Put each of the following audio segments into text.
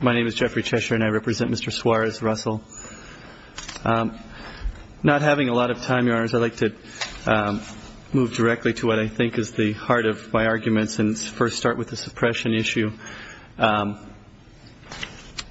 My name is Jeffrey Cheshire and I represent Mr. Suarez-Russell. Not having a lot of time, Your Honors, I'd like to move directly to what I think is the heart of my arguments and first start with the suppression issue.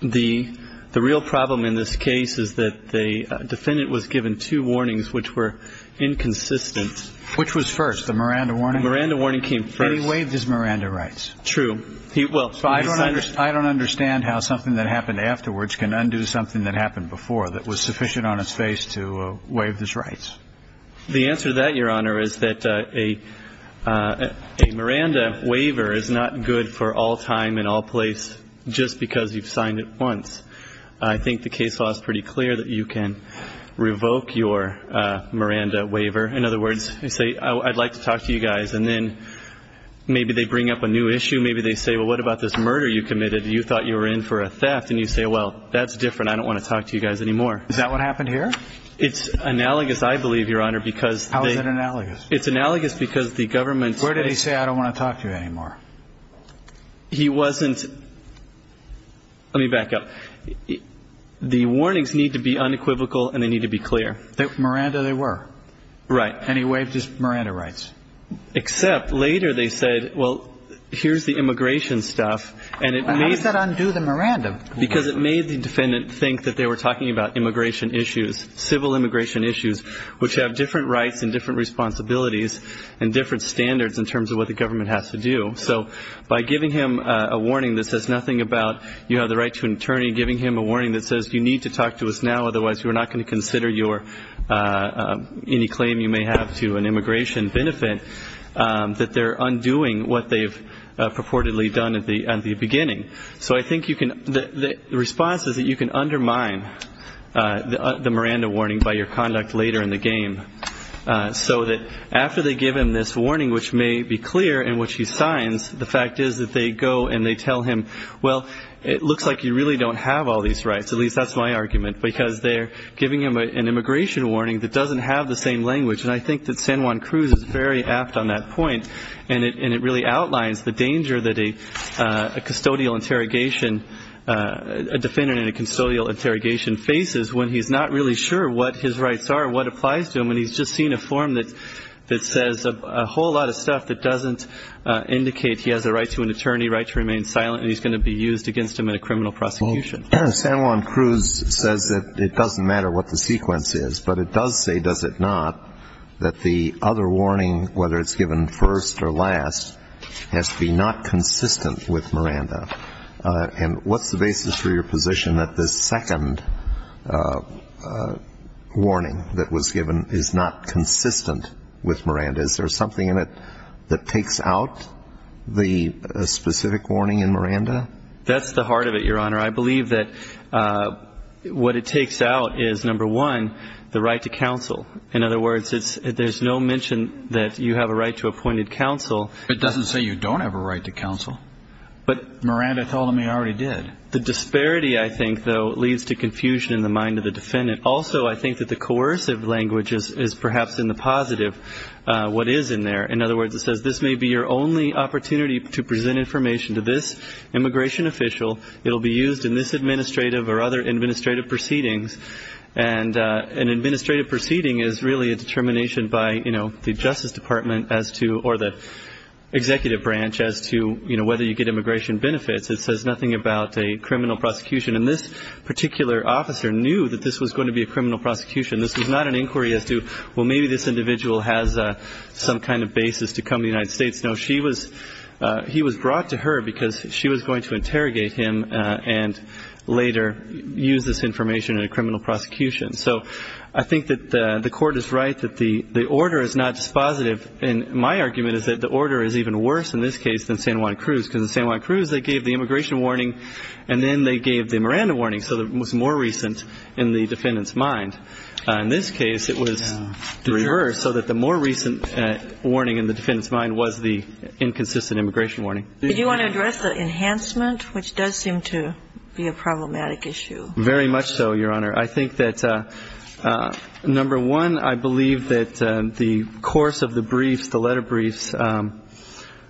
The real problem in this case is that the defendant was given two warnings which were inconsistent. Which was first, the Miranda warning? The Miranda warning came first. And he waived his Miranda rights. True. I don't understand how something that happened afterwards can undo something that happened before that was sufficient on its face to waive his rights. The answer to that, Your Honor, is that a Miranda waiver is not good for all time and all place just because you've signed it once. I think the case law is pretty clear that you can revoke your Miranda waiver. In other words, you say, I'd like to talk to you guys. And then maybe they bring up a new issue. Maybe they say, well, what about this murder you committed? You thought you were in for a theft. And you say, well, that's different. I don't want to talk to you guys anymore. Is that what happened here? It's analogous, I believe, Your Honor, because they How is it analogous? It's analogous because the government Where did he say I don't want to talk to you anymore? He wasn't Let me back up. The warnings need to be unequivocal and they need to be clear. Miranda, they were right. And he waived his Miranda rights. Except later they said, well, here's the immigration stuff. And how does that undo the Miranda? Because it made the defendant think that they were talking about immigration issues, civil immigration issues, which have different rights and different responsibilities and different standards in terms of what the government has to do. So by giving him a warning that says nothing about you have the right to an attorney, giving him a warning that says you need to talk to us now, otherwise we're not going to consider your any claim you may have to an immigration benefit, that they're undoing what they've purportedly done at the beginning. So I think you can the response is that you can undermine the Miranda warning by your conduct later in the game, so that after they give him this warning, which may be clear in which he signs, the fact is that they go and they tell him, well, it looks like you really don't have all these rights, at least that's my argument, because they're giving him an immigration warning that doesn't have the same language. And I think that San Juan Cruz is very apt on that point, and it really outlines the danger that a custodial interrogation, a defendant in a custodial interrogation faces when he's not really sure what his rights are, what applies to them, and he's just seen a form that says a whole lot of stuff that doesn't indicate he has a right to an attorney, right to remain silent, and he's going to be used against him in a criminal prosecution. San Juan Cruz says that it doesn't matter what the sequence is, but it does say, does it not, that the other warning, whether it's given first or last, has to be not consistent with Miranda. And what's the basis for your position that this second warning that was given is not consistent with Miranda? Is there something in it that takes out the specific warning in Miranda? That's the heart of it, Your Honor. I believe that what it takes out is, number one, the right to counsel. In other words, there's no mention that you have a right to appointed counsel. It doesn't say you don't have a right to counsel. But Miranda told him he already did. The disparity, I think, though, leads to confusion in the mind of the defendant. Also, I think that the coercive language is perhaps in the positive, what is in there. In other words, it says this may be your only opportunity to present information to this immigration official. It will be used in this administrative or other administrative proceedings. And an administrative proceeding is really a determination by, you know, the Justice Department as to or the executive branch as to, you know, whether you get immigration benefits. It says nothing about a criminal prosecution. And this particular officer knew that this was going to be a criminal prosecution. This was not an inquiry as to, well, maybe this individual has some kind of basis to come to the United States. No, he was brought to her because she was going to interrogate him and later use this information in a criminal prosecution. So I think that the Court is right that the order is not just positive. And my argument is that the order is even worse in this case than San Juan Cruz, because in San Juan Cruz they gave the immigration warning and then they gave the Miranda warning, so it was more recent in the defendant's mind. In this case, it was the reverse, so that the more recent warning in the defendant's mind was the inconsistent immigration warning. Did you want to address the enhancement, which does seem to be a problematic issue? Very much so, Your Honor. I think that, number one, I believe that the course of the briefs, the letter briefs,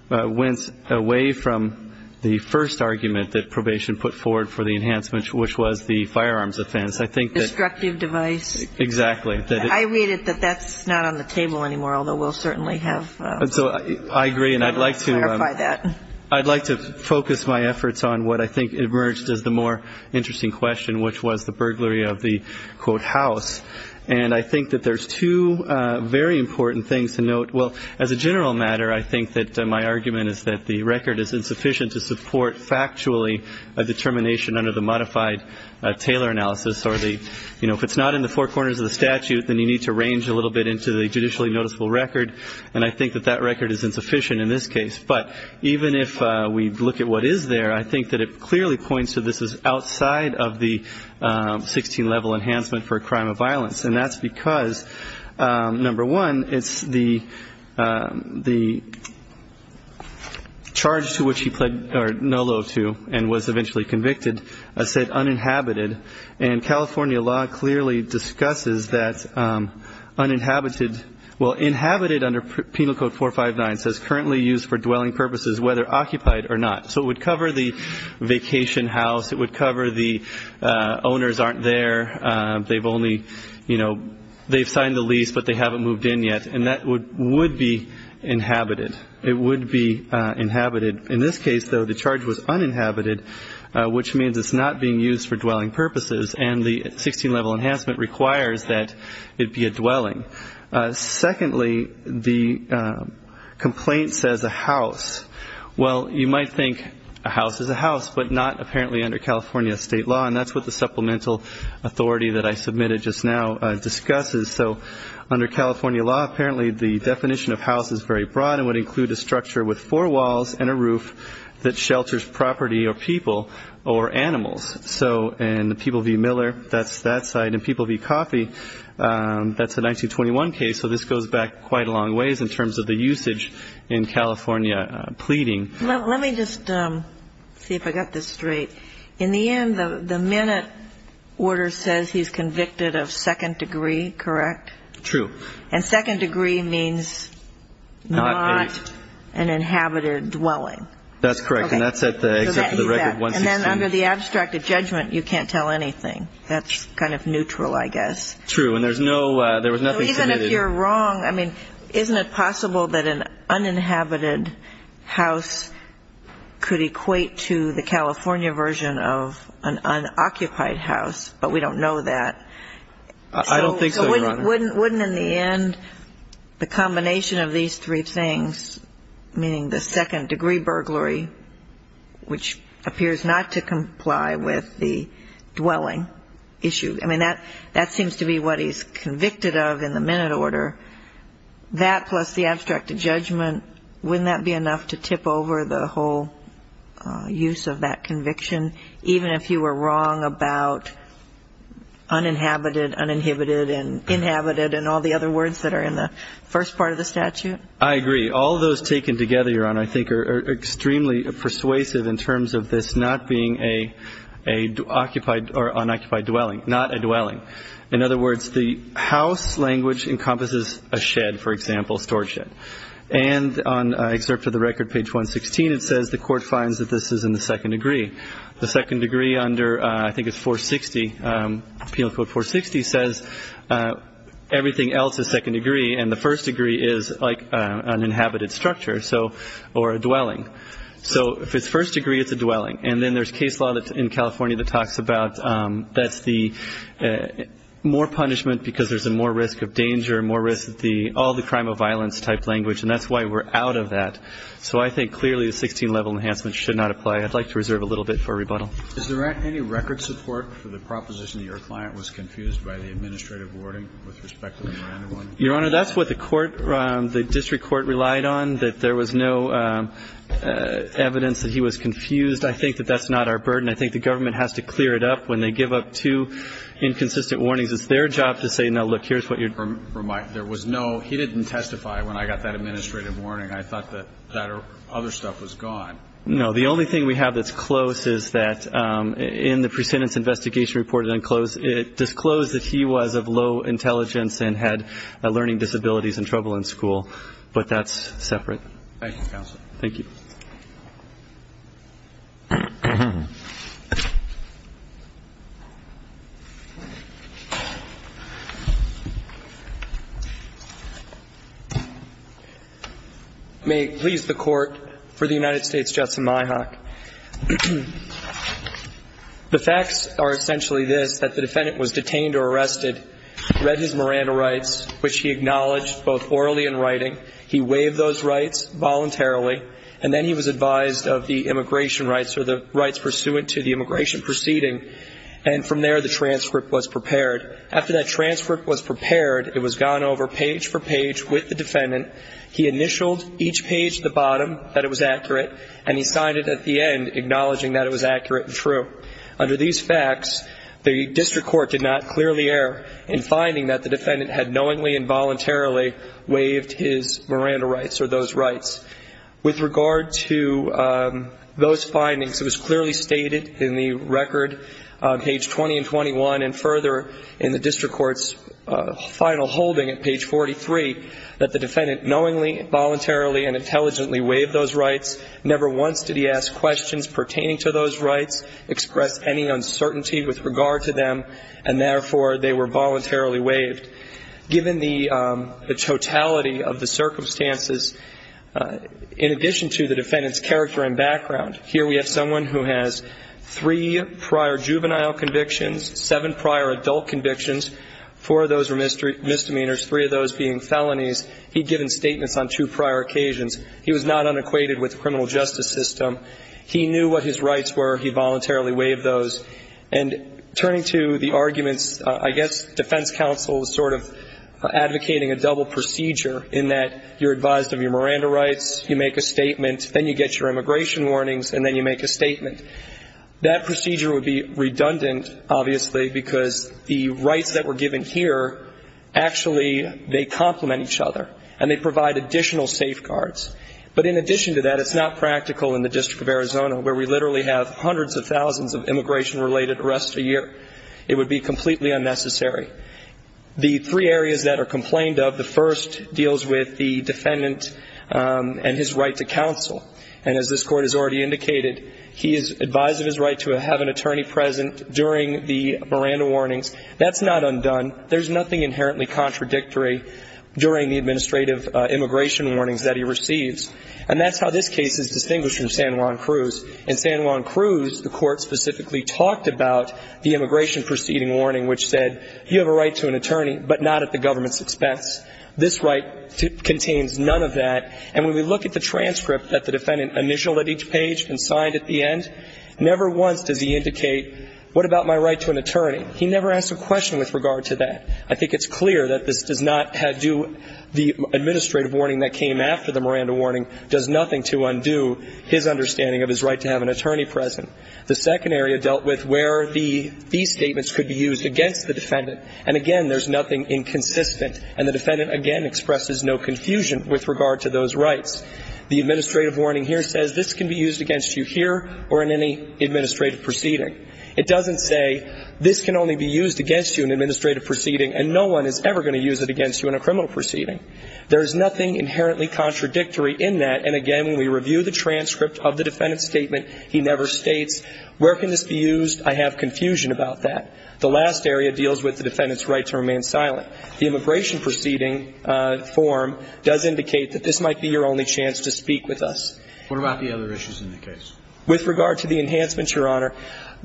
went away from the first argument that probation put forward for the enhancements, which was the firearms offense. I think that Destructive device. Exactly. I read it that that's not on the table anymore, although we'll certainly have So I agree, and I'd like to focus my efforts on what I think emerged as the more interesting question, which was the burglary of the, quote, house. And I think that there's two very important things to note. Well, as a general matter, I think that my argument is that the record is insufficient to support factually a determination under the modified Taylor analysis or the, you know, if it's not in the four corners of the statute, then you need to range a little bit into the judicially noticeable record. And I think that that record is insufficient in this case. But even if we look at what is there, I think that it clearly points to this is outside of the 16-level enhancement for a crime of violence. And that's because, number one, it's the charge to which he pled no love to and was eventually convicted said uninhabited. And California law clearly discusses that uninhabited, well, inhabited under Penal Code 459 says currently used for dwelling purposes whether occupied or not. So it would cover the vacation house. It would cover the owners aren't there. They've only, you know, they've signed the lease, but they haven't moved in yet. And that would be inhabited. It would be inhabited. In this case, though, the charge was uninhabited, which means it's not being used for dwelling purposes. And the 16-level enhancement requires that it be a dwelling. Secondly, the complaint says a house. Well, you might think a house is a house, but not apparently under California state law. And that's what the supplemental authority that I submitted just now discusses. So under California law, apparently the definition of house is very broad and would include a structure with four walls and a roof that shelters property or people or animals. And the people v. Miller, that's that side. And people v. Coffey, that's a 1921 case. So this goes back quite a long ways in terms of the usage in California pleading. Well, let me just see if I got this straight. In the end, the minute order says he's convicted of second degree, correct? True. And second degree means not an inhabited dwelling. That's correct. And that's at the except for the record 162. And then under the abstracted judgment, you can't tell anything. That's kind of neutral, I guess. True. And there was nothing submitted. So even if you're wrong, I mean, isn't it possible that an uninhabited house could equate to the California version of an unoccupied house? But we don't know that. I don't think so, Your Honor. Wouldn't, in the end, the combination of these three things, meaning the second degree burglary, which appears not to comply with the dwelling issue, I mean, that seems to be what he's convicted of in the minute order. That plus the abstracted judgment, wouldn't that be enough to tip over the whole use of that conviction? Even if you were wrong about uninhabited, uninhibited, and inhabited, and all the other words that are in the first part of the statute? I agree. All those taken together, Your Honor, I think are extremely persuasive in terms of this not being an occupied or unoccupied dwelling, not a dwelling. In other words, the house language encompasses a shed, for example, a storage shed. And on excerpt of the record, page 116, it says the court finds that this is in the second degree. The second degree under, I think it's 460, Penal Code 460, says everything else is second degree, and the first degree is like an inhabited structure or a dwelling. So if it's first degree, it's a dwelling. And then there's case law in California that talks about that's the more punishment because there's more risk of danger, more risk of the all the crime of violence type language, and that's why we're out of that. So I think clearly the 16-level enhancement should not apply. I'd like to reserve a little bit for rebuttal. Is there any record support for the proposition that your client was confused by the administrative warning with respect to the Miranda warning? Your Honor, that's what the court, the district court relied on, that there was no evidence that he was confused. I think that that's not our burden. I think the government has to clear it up. When they give up two inconsistent warnings, it's their job to say, no, look, here's what you're doing. There was no, he didn't testify when I got that administrative warning. I thought that other stuff was gone. No, the only thing we have that's close is that in the precedent's investigation report, it disclosed that he was of low intelligence and had learning disabilities and trouble in school. But that's separate. Thank you, counsel. Thank you. May it please the Court, for the United States, Justin Myhock. The facts are essentially this, that the defendant was detained or arrested, read his Miranda rights, which he acknowledged both orally and writing. He waived those rights voluntarily, and then he was advised of the immigration rights or the rights pursuant to the immigration proceeding, and from there the transcript was prepared. After that transcript was prepared, it was gone over page for page with the defendant. He initialed each page at the bottom that it was accurate, and he signed it at the end acknowledging that it was accurate and true. Under these facts, the district court did not clearly err in finding that the defendant had knowingly and voluntarily waived his Miranda rights or those rights. With regard to those findings, it was clearly stated in the record on page 20 and 21 and further in the district court's final holding at page 43 that the defendant knowingly, voluntarily, and intelligently waived those rights. Never once did he ask questions pertaining to those rights, express any uncertainty with regard to them, and therefore they were voluntarily waived. Given the totality of the circumstances, in addition to the defendant's character and background, here we have someone who has three prior juvenile convictions, seven prior adult convictions, four of those were misdemeanors, three of those being felonies. He'd given statements on two prior occasions. He was not unequated with the criminal justice system. He knew what his rights were. He voluntarily waived those. And turning to the arguments, I guess defense counsel is sort of advocating a double procedure in that you're advised of your Miranda rights, you make a statement, then you get your immigration warnings, and then you make a statement. That procedure would be redundant, obviously, because the rights that were given here, actually they complement each other, and they provide additional safeguards. But in addition to that, it's not practical in the District of Arizona, where we literally have hundreds of thousands of immigration-related arrests a year. It would be completely unnecessary. The three areas that are complained of, the first deals with the defendant and his right to counsel. And as this Court has already indicated, he is advised of his right to have an attorney present during the Miranda warnings. That's not undone. There's nothing inherently contradictory during the administrative immigration warnings that he receives. And that's how this case is distinguished from San Juan Cruz. In San Juan Cruz, the Court specifically talked about the immigration proceeding warning, which said, you have a right to an attorney, but not at the government's expense. This right contains none of that. And when we look at the transcript that the defendant initialed at each page and signed at the end, never once does he indicate, what about my right to an attorney? He never asked a question with regard to that. I think it's clear that this does not do the administrative warning that came after the Miranda warning, does nothing to undo his understanding of his right to have an attorney present. The second area dealt with where these statements could be used against the defendant. And, again, there's nothing inconsistent. And the defendant, again, expresses no confusion with regard to those rights. The administrative warning here says, this can be used against you here or in any administrative proceeding. It doesn't say, this can only be used against you in an administrative proceeding, and no one is ever going to use it against you in a criminal proceeding. There is nothing inherently contradictory in that. And, again, when we review the transcript of the defendant's statement, he never states, where can this be used? I have confusion about that. The last area deals with the defendant's right to remain silent. The immigration proceeding form does indicate that this might be your only chance to speak with us. What about the other issues in the case? With regard to the enhancements, Your Honor,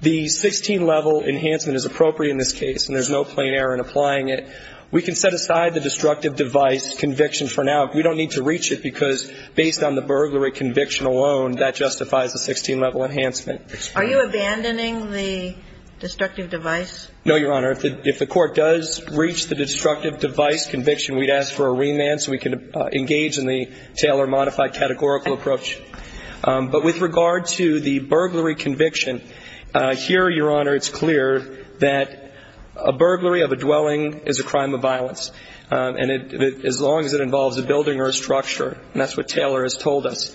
the 16-level enhancement is appropriate in this case, and there's no plain error in applying it. We can set aside the destructive device conviction for now. We don't need to reach it because, based on the burglary conviction alone, that justifies a 16-level enhancement. Are you abandoning the destructive device? No, Your Honor. If the court does reach the destructive device conviction, we'd ask for a remand so we could engage in the Taylor modified categorical approach. But with regard to the burglary conviction, here, Your Honor, it's clear that a burglary of a dwelling is a crime of violence, as long as it involves a building or a structure, and that's what Taylor has told us.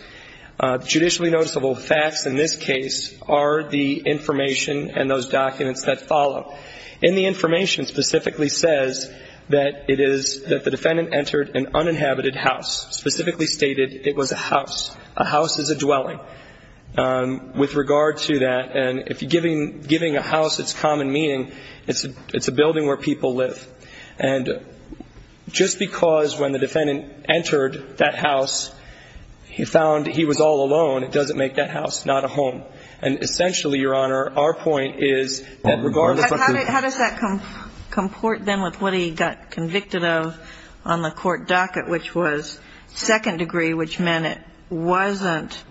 Judicially noticeable facts in this case are the information and those documents that follow. And the information specifically says that it is that the defendant entered an uninhabited house, specifically stated it was a house. A house is a dwelling. With regard to that, and if giving a house its common meaning, it's a building where people live. And just because when the defendant entered that house, he found he was all alone, it doesn't make that house not a home. And essentially, Your Honor, our point is that regardless of the ---- How does that comport then with what he got convicted of on the court docket, which was second degree, which meant it wasn't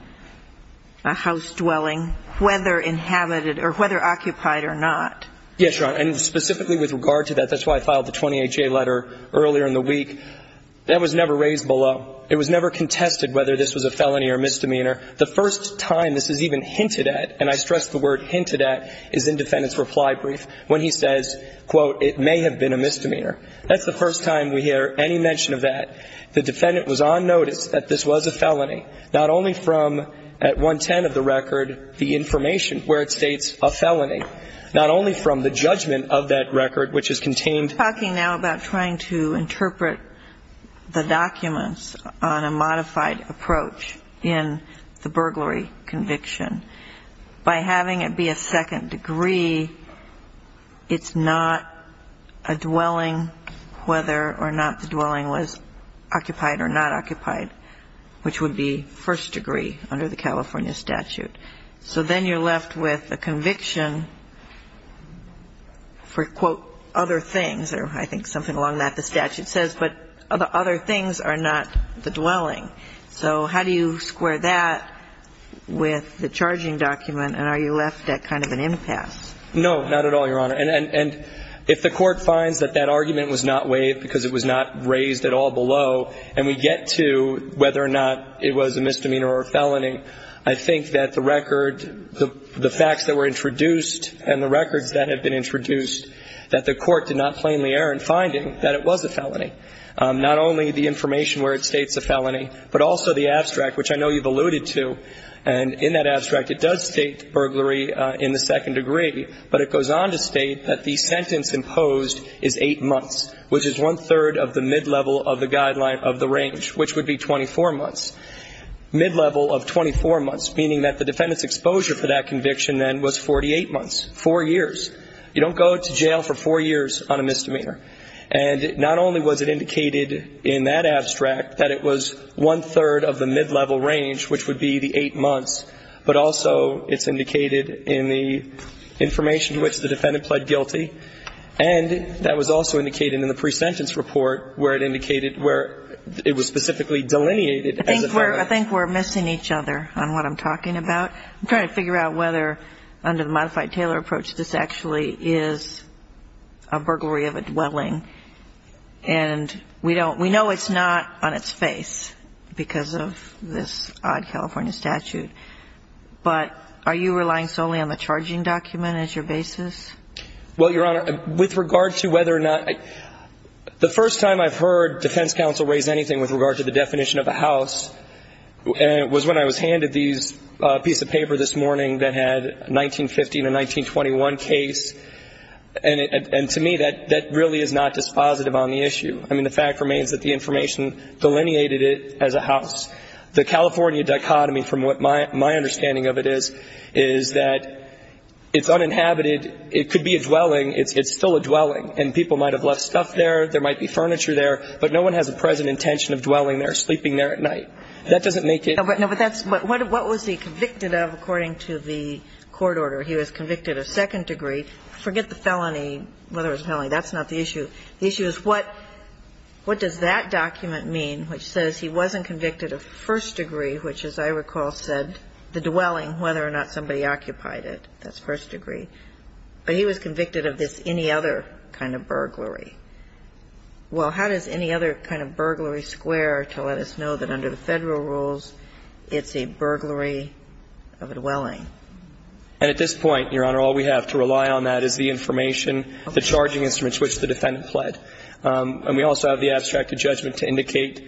a house dwelling, whether inhabited or whether occupied or not? Yes, Your Honor. And specifically with regard to that, that's why I filed the 20HA letter earlier in the week. That was never raised below. It was never contested whether this was a felony or misdemeanor. The first time this is even hinted at, and I stress the word hinted at, is in defendant's reply brief. When he says, quote, it may have been a misdemeanor. That's the first time we hear any mention of that. The defendant was on notice that this was a felony, not only from, at 110 of the record, the information where it states a felony, not only from the judgment of that record, which is contained. We're talking now about trying to interpret the documents on a modified approach in the burglary conviction. By having it be a second degree, it's not a dwelling, whether or not the dwelling was occupied or not occupied, which would be first degree under the California statute. So then you're left with a conviction for, quote, other things, or I think something along that the statute says, but the other things are not the dwelling. So how do you square that with the charging document, and are you left at kind of an impasse? No, not at all, Your Honor. And if the court finds that that argument was not waived because it was not raised at all below, and we get to whether or not it was a misdemeanor or a felony, I think that the record, the facts that were introduced and the records that have been introduced, that the court did not plainly err in finding that it was a felony, not only the information where it states a felony, but also the abstract, which I know you've alluded to. And in that abstract, it does state burglary in the second degree, but it goes on to state that the sentence imposed is eight months, which is one-third of the mid-level of the guideline of the range, which would be 24 months. Mid-level of 24 months, meaning that the defendant's exposure for that conviction then was 48 months, four years. You don't go to jail for four years on a misdemeanor. And not only was it indicated in that abstract that it was one-third of the mid-level range, which would be the eight months, but also it's indicated in the information to which the defendant pled guilty. And that was also indicated in the presentence report where it indicated where it was specifically delineated as a felony. I think we're missing each other on what I'm talking about. I'm trying to figure out whether, under the modified Taylor approach, this actually is a burglary of a dwelling. And we don't – we know it's not on its face because of this odd California statute, but are you relying solely on the charging document as your basis? Well, Your Honor, with regard to whether or not – the first time I've heard defense counsel raise anything with regard to the definition of a house was when I was handed these – a piece of paper this morning that had 1915 and 1921 case. And to me, that really is not dispositive on the issue. I mean, the fact remains that the information delineated it as a house. The California dichotomy, from what my understanding of it is, is that it's uninhabited. It could be a dwelling. It's still a dwelling. And people might have left stuff there. There might be furniture there. But no one has a present intention of dwelling there, sleeping there at night. That doesn't make it – No, but that's – what was he convicted of according to the court order? He was convicted of second degree. Forget the felony, whether it was a felony. That's not the issue. The issue is what does that document mean, which says he wasn't convicted of first degree, which, as I recall, said the dwelling, whether or not somebody occupied it. That's first degree. But he was convicted of this any other kind of burglary. Well, how does any other kind of burglary square to let us know that under the Federal rules it's a burglary of a dwelling? And at this point, Your Honor, all we have to rely on that is the information, the charging instruments which the defendant pled. And we also have the abstracted judgment to indicate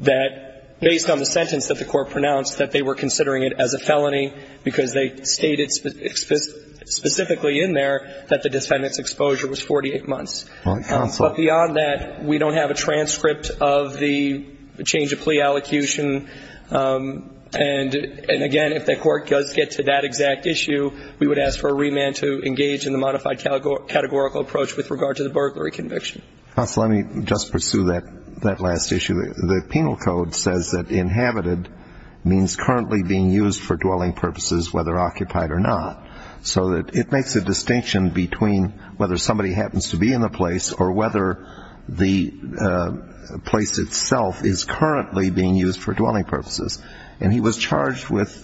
that based on the sentence that the court pronounced, that they were considering it as a felony because they stated specifically in there that the defendant's exposure was 48 months. But beyond that, we don't have a transcript of the change of plea allocution. And, again, if the court does get to that exact issue, we would ask for a remand to engage in the modified categorical approach with regard to the burglary conviction. Counsel, let me just pursue that last issue. The penal code says that inhabited means currently being used for dwelling purposes, whether occupied or not. So it makes a distinction between whether somebody happens to be in the place or whether the place itself is currently being used for dwelling purposes. And he was charged with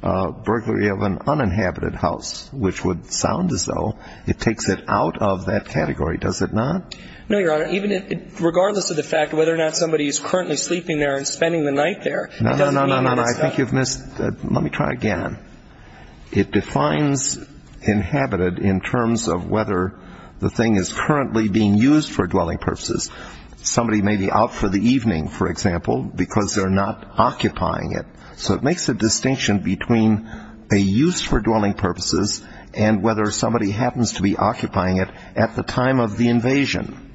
burglary of an uninhabited house, which would sound as though it takes it out of that category. Does it not? No, Your Honor. Regardless of the fact whether or not somebody is currently sleeping there and spending the night there, it doesn't mean that it's not. No, no, no. I think you've missed. Let me try again. It defines inhabited in terms of whether the thing is currently being used for dwelling purposes. Somebody may be out for the evening, for example, because they're not occupying it. So it makes a distinction between a use for dwelling purposes and whether somebody happens to be occupying it at the time of the invasion.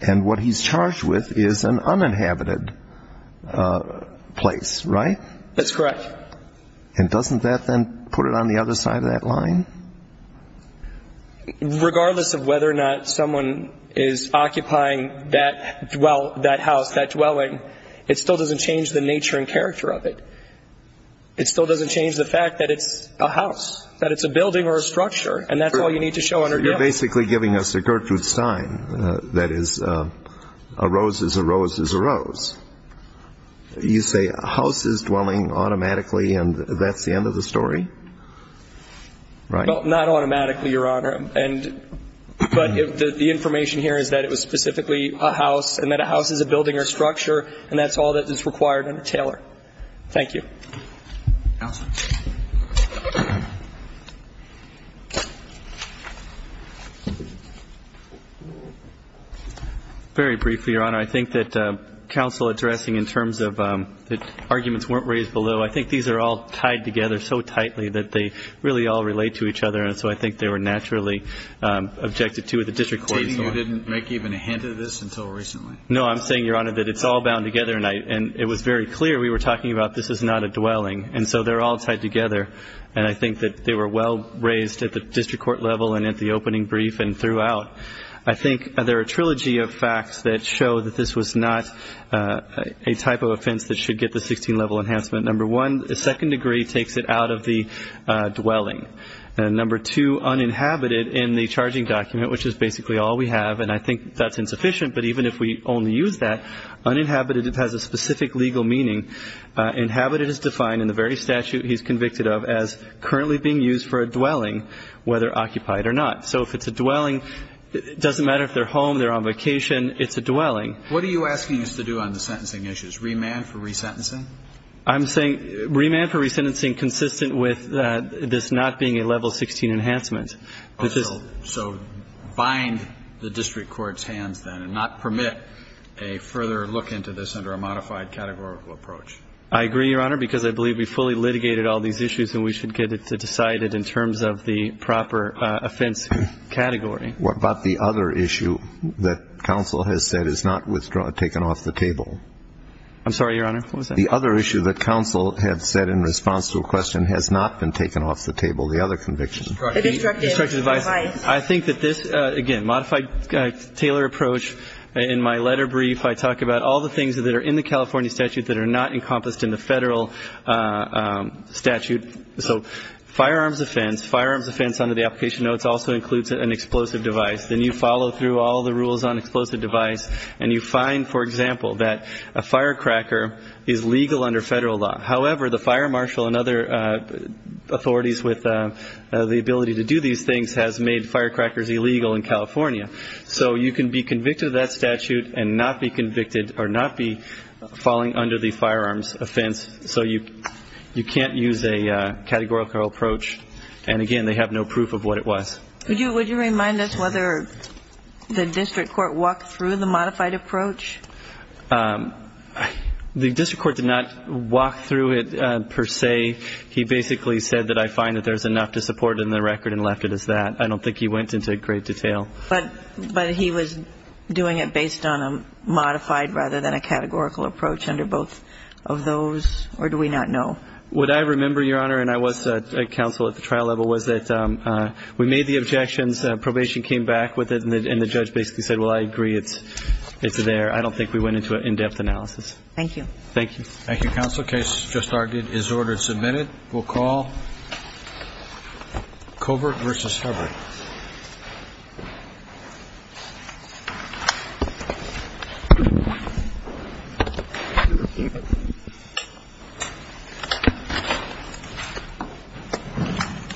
And what he's charged with is an uninhabited place, right? That's correct. And doesn't that then put it on the other side of that line? Regardless of whether or not someone is occupying that house, that dwelling, it still doesn't change the nature and character of it. It still doesn't change the fact that it's a house, that it's a building or a structure, and that's all you need to show under guilt. So you're basically giving us a Gertrude Stein that is a rose is a rose is a rose. You say a house is dwelling automatically, and that's the end of the story? Well, not automatically, Your Honor. But the information here is that it was specifically a house, and that a house is a building or a structure, and that's all that is required under Taylor. Thank you. Counsel. Very briefly, Your Honor. I think that counsel addressing in terms of the arguments weren't raised below, I think these are all tied together so tightly that they really all relate to each other, and so I think they were naturally objected to at the district court as well. So you didn't make even a hint of this until recently? No, I'm saying, Your Honor, that it's all bound together, and it was very clear we were talking about this is not a dwelling, and so they're all tied together, and I think that they were well raised at the district court level and at the opening brief and throughout. I think there are a trilogy of facts that show that this was not a type of offense that should get the 16-level enhancement. Number one, the second degree takes it out of the dwelling. And number two, uninhabited in the charging document, which is basically all we have, and I think that's insufficient, but even if we only use that, uninhabited has a specific legal meaning. Inhabited is defined in the very statute he's convicted of as currently being used for a dwelling, whether occupied or not. So if it's a dwelling, it doesn't matter if they're home, they're on vacation, it's a dwelling. What are you asking us to do on the sentencing issues? Remand for resentencing? I'm saying remand for resentencing consistent with this not being a level 16 enhancement. So bind the district court's hands then and not permit a further look into this under a modified categorical approach. I agree, Your Honor, because I believe we fully litigated all these issues and we should get it decided in terms of the proper offense category. What about the other issue that counsel has said is not withdrawn, taken off the table? I'm sorry, Your Honor, what was that? The other issue that counsel had said in response to a question has not been taken off the table, the other conviction. The destructive device. The destructive device. I think that this, again, modified Taylor approach. In my letter brief, I talk about all the things that are in the California statute that are not encompassed in the Federal statute. So firearms offense, firearms offense under the application notes also includes an explosive device. Then you follow through all the rules on explosive device and you find, for example, that a firecracker is legal under Federal law. However, the fire marshal and other authorities with the ability to do these things has made firecrackers illegal in California. So you can be convicted of that statute and not be convicted or not be falling under the firearms offense. So you can't use a categorical approach. And, again, they have no proof of what it was. Would you remind us whether the district court walked through the modified approach? The district court did not walk through it per se. He basically said that I find that there's enough to support in the record and left it as that. I don't think he went into great detail. But he was doing it based on a modified rather than a categorical approach under both of those, or do we not know? What I remember, Your Honor, and I was at counsel at the trial level, was that we made the objections, probation came back with it, and the judge basically said, well, I agree, it's there. I don't think we went into an in-depth analysis. Thank you. Thank you. Thank you, Counsel. The case just argued is ordered submitted. We'll call covert versus Hubbard.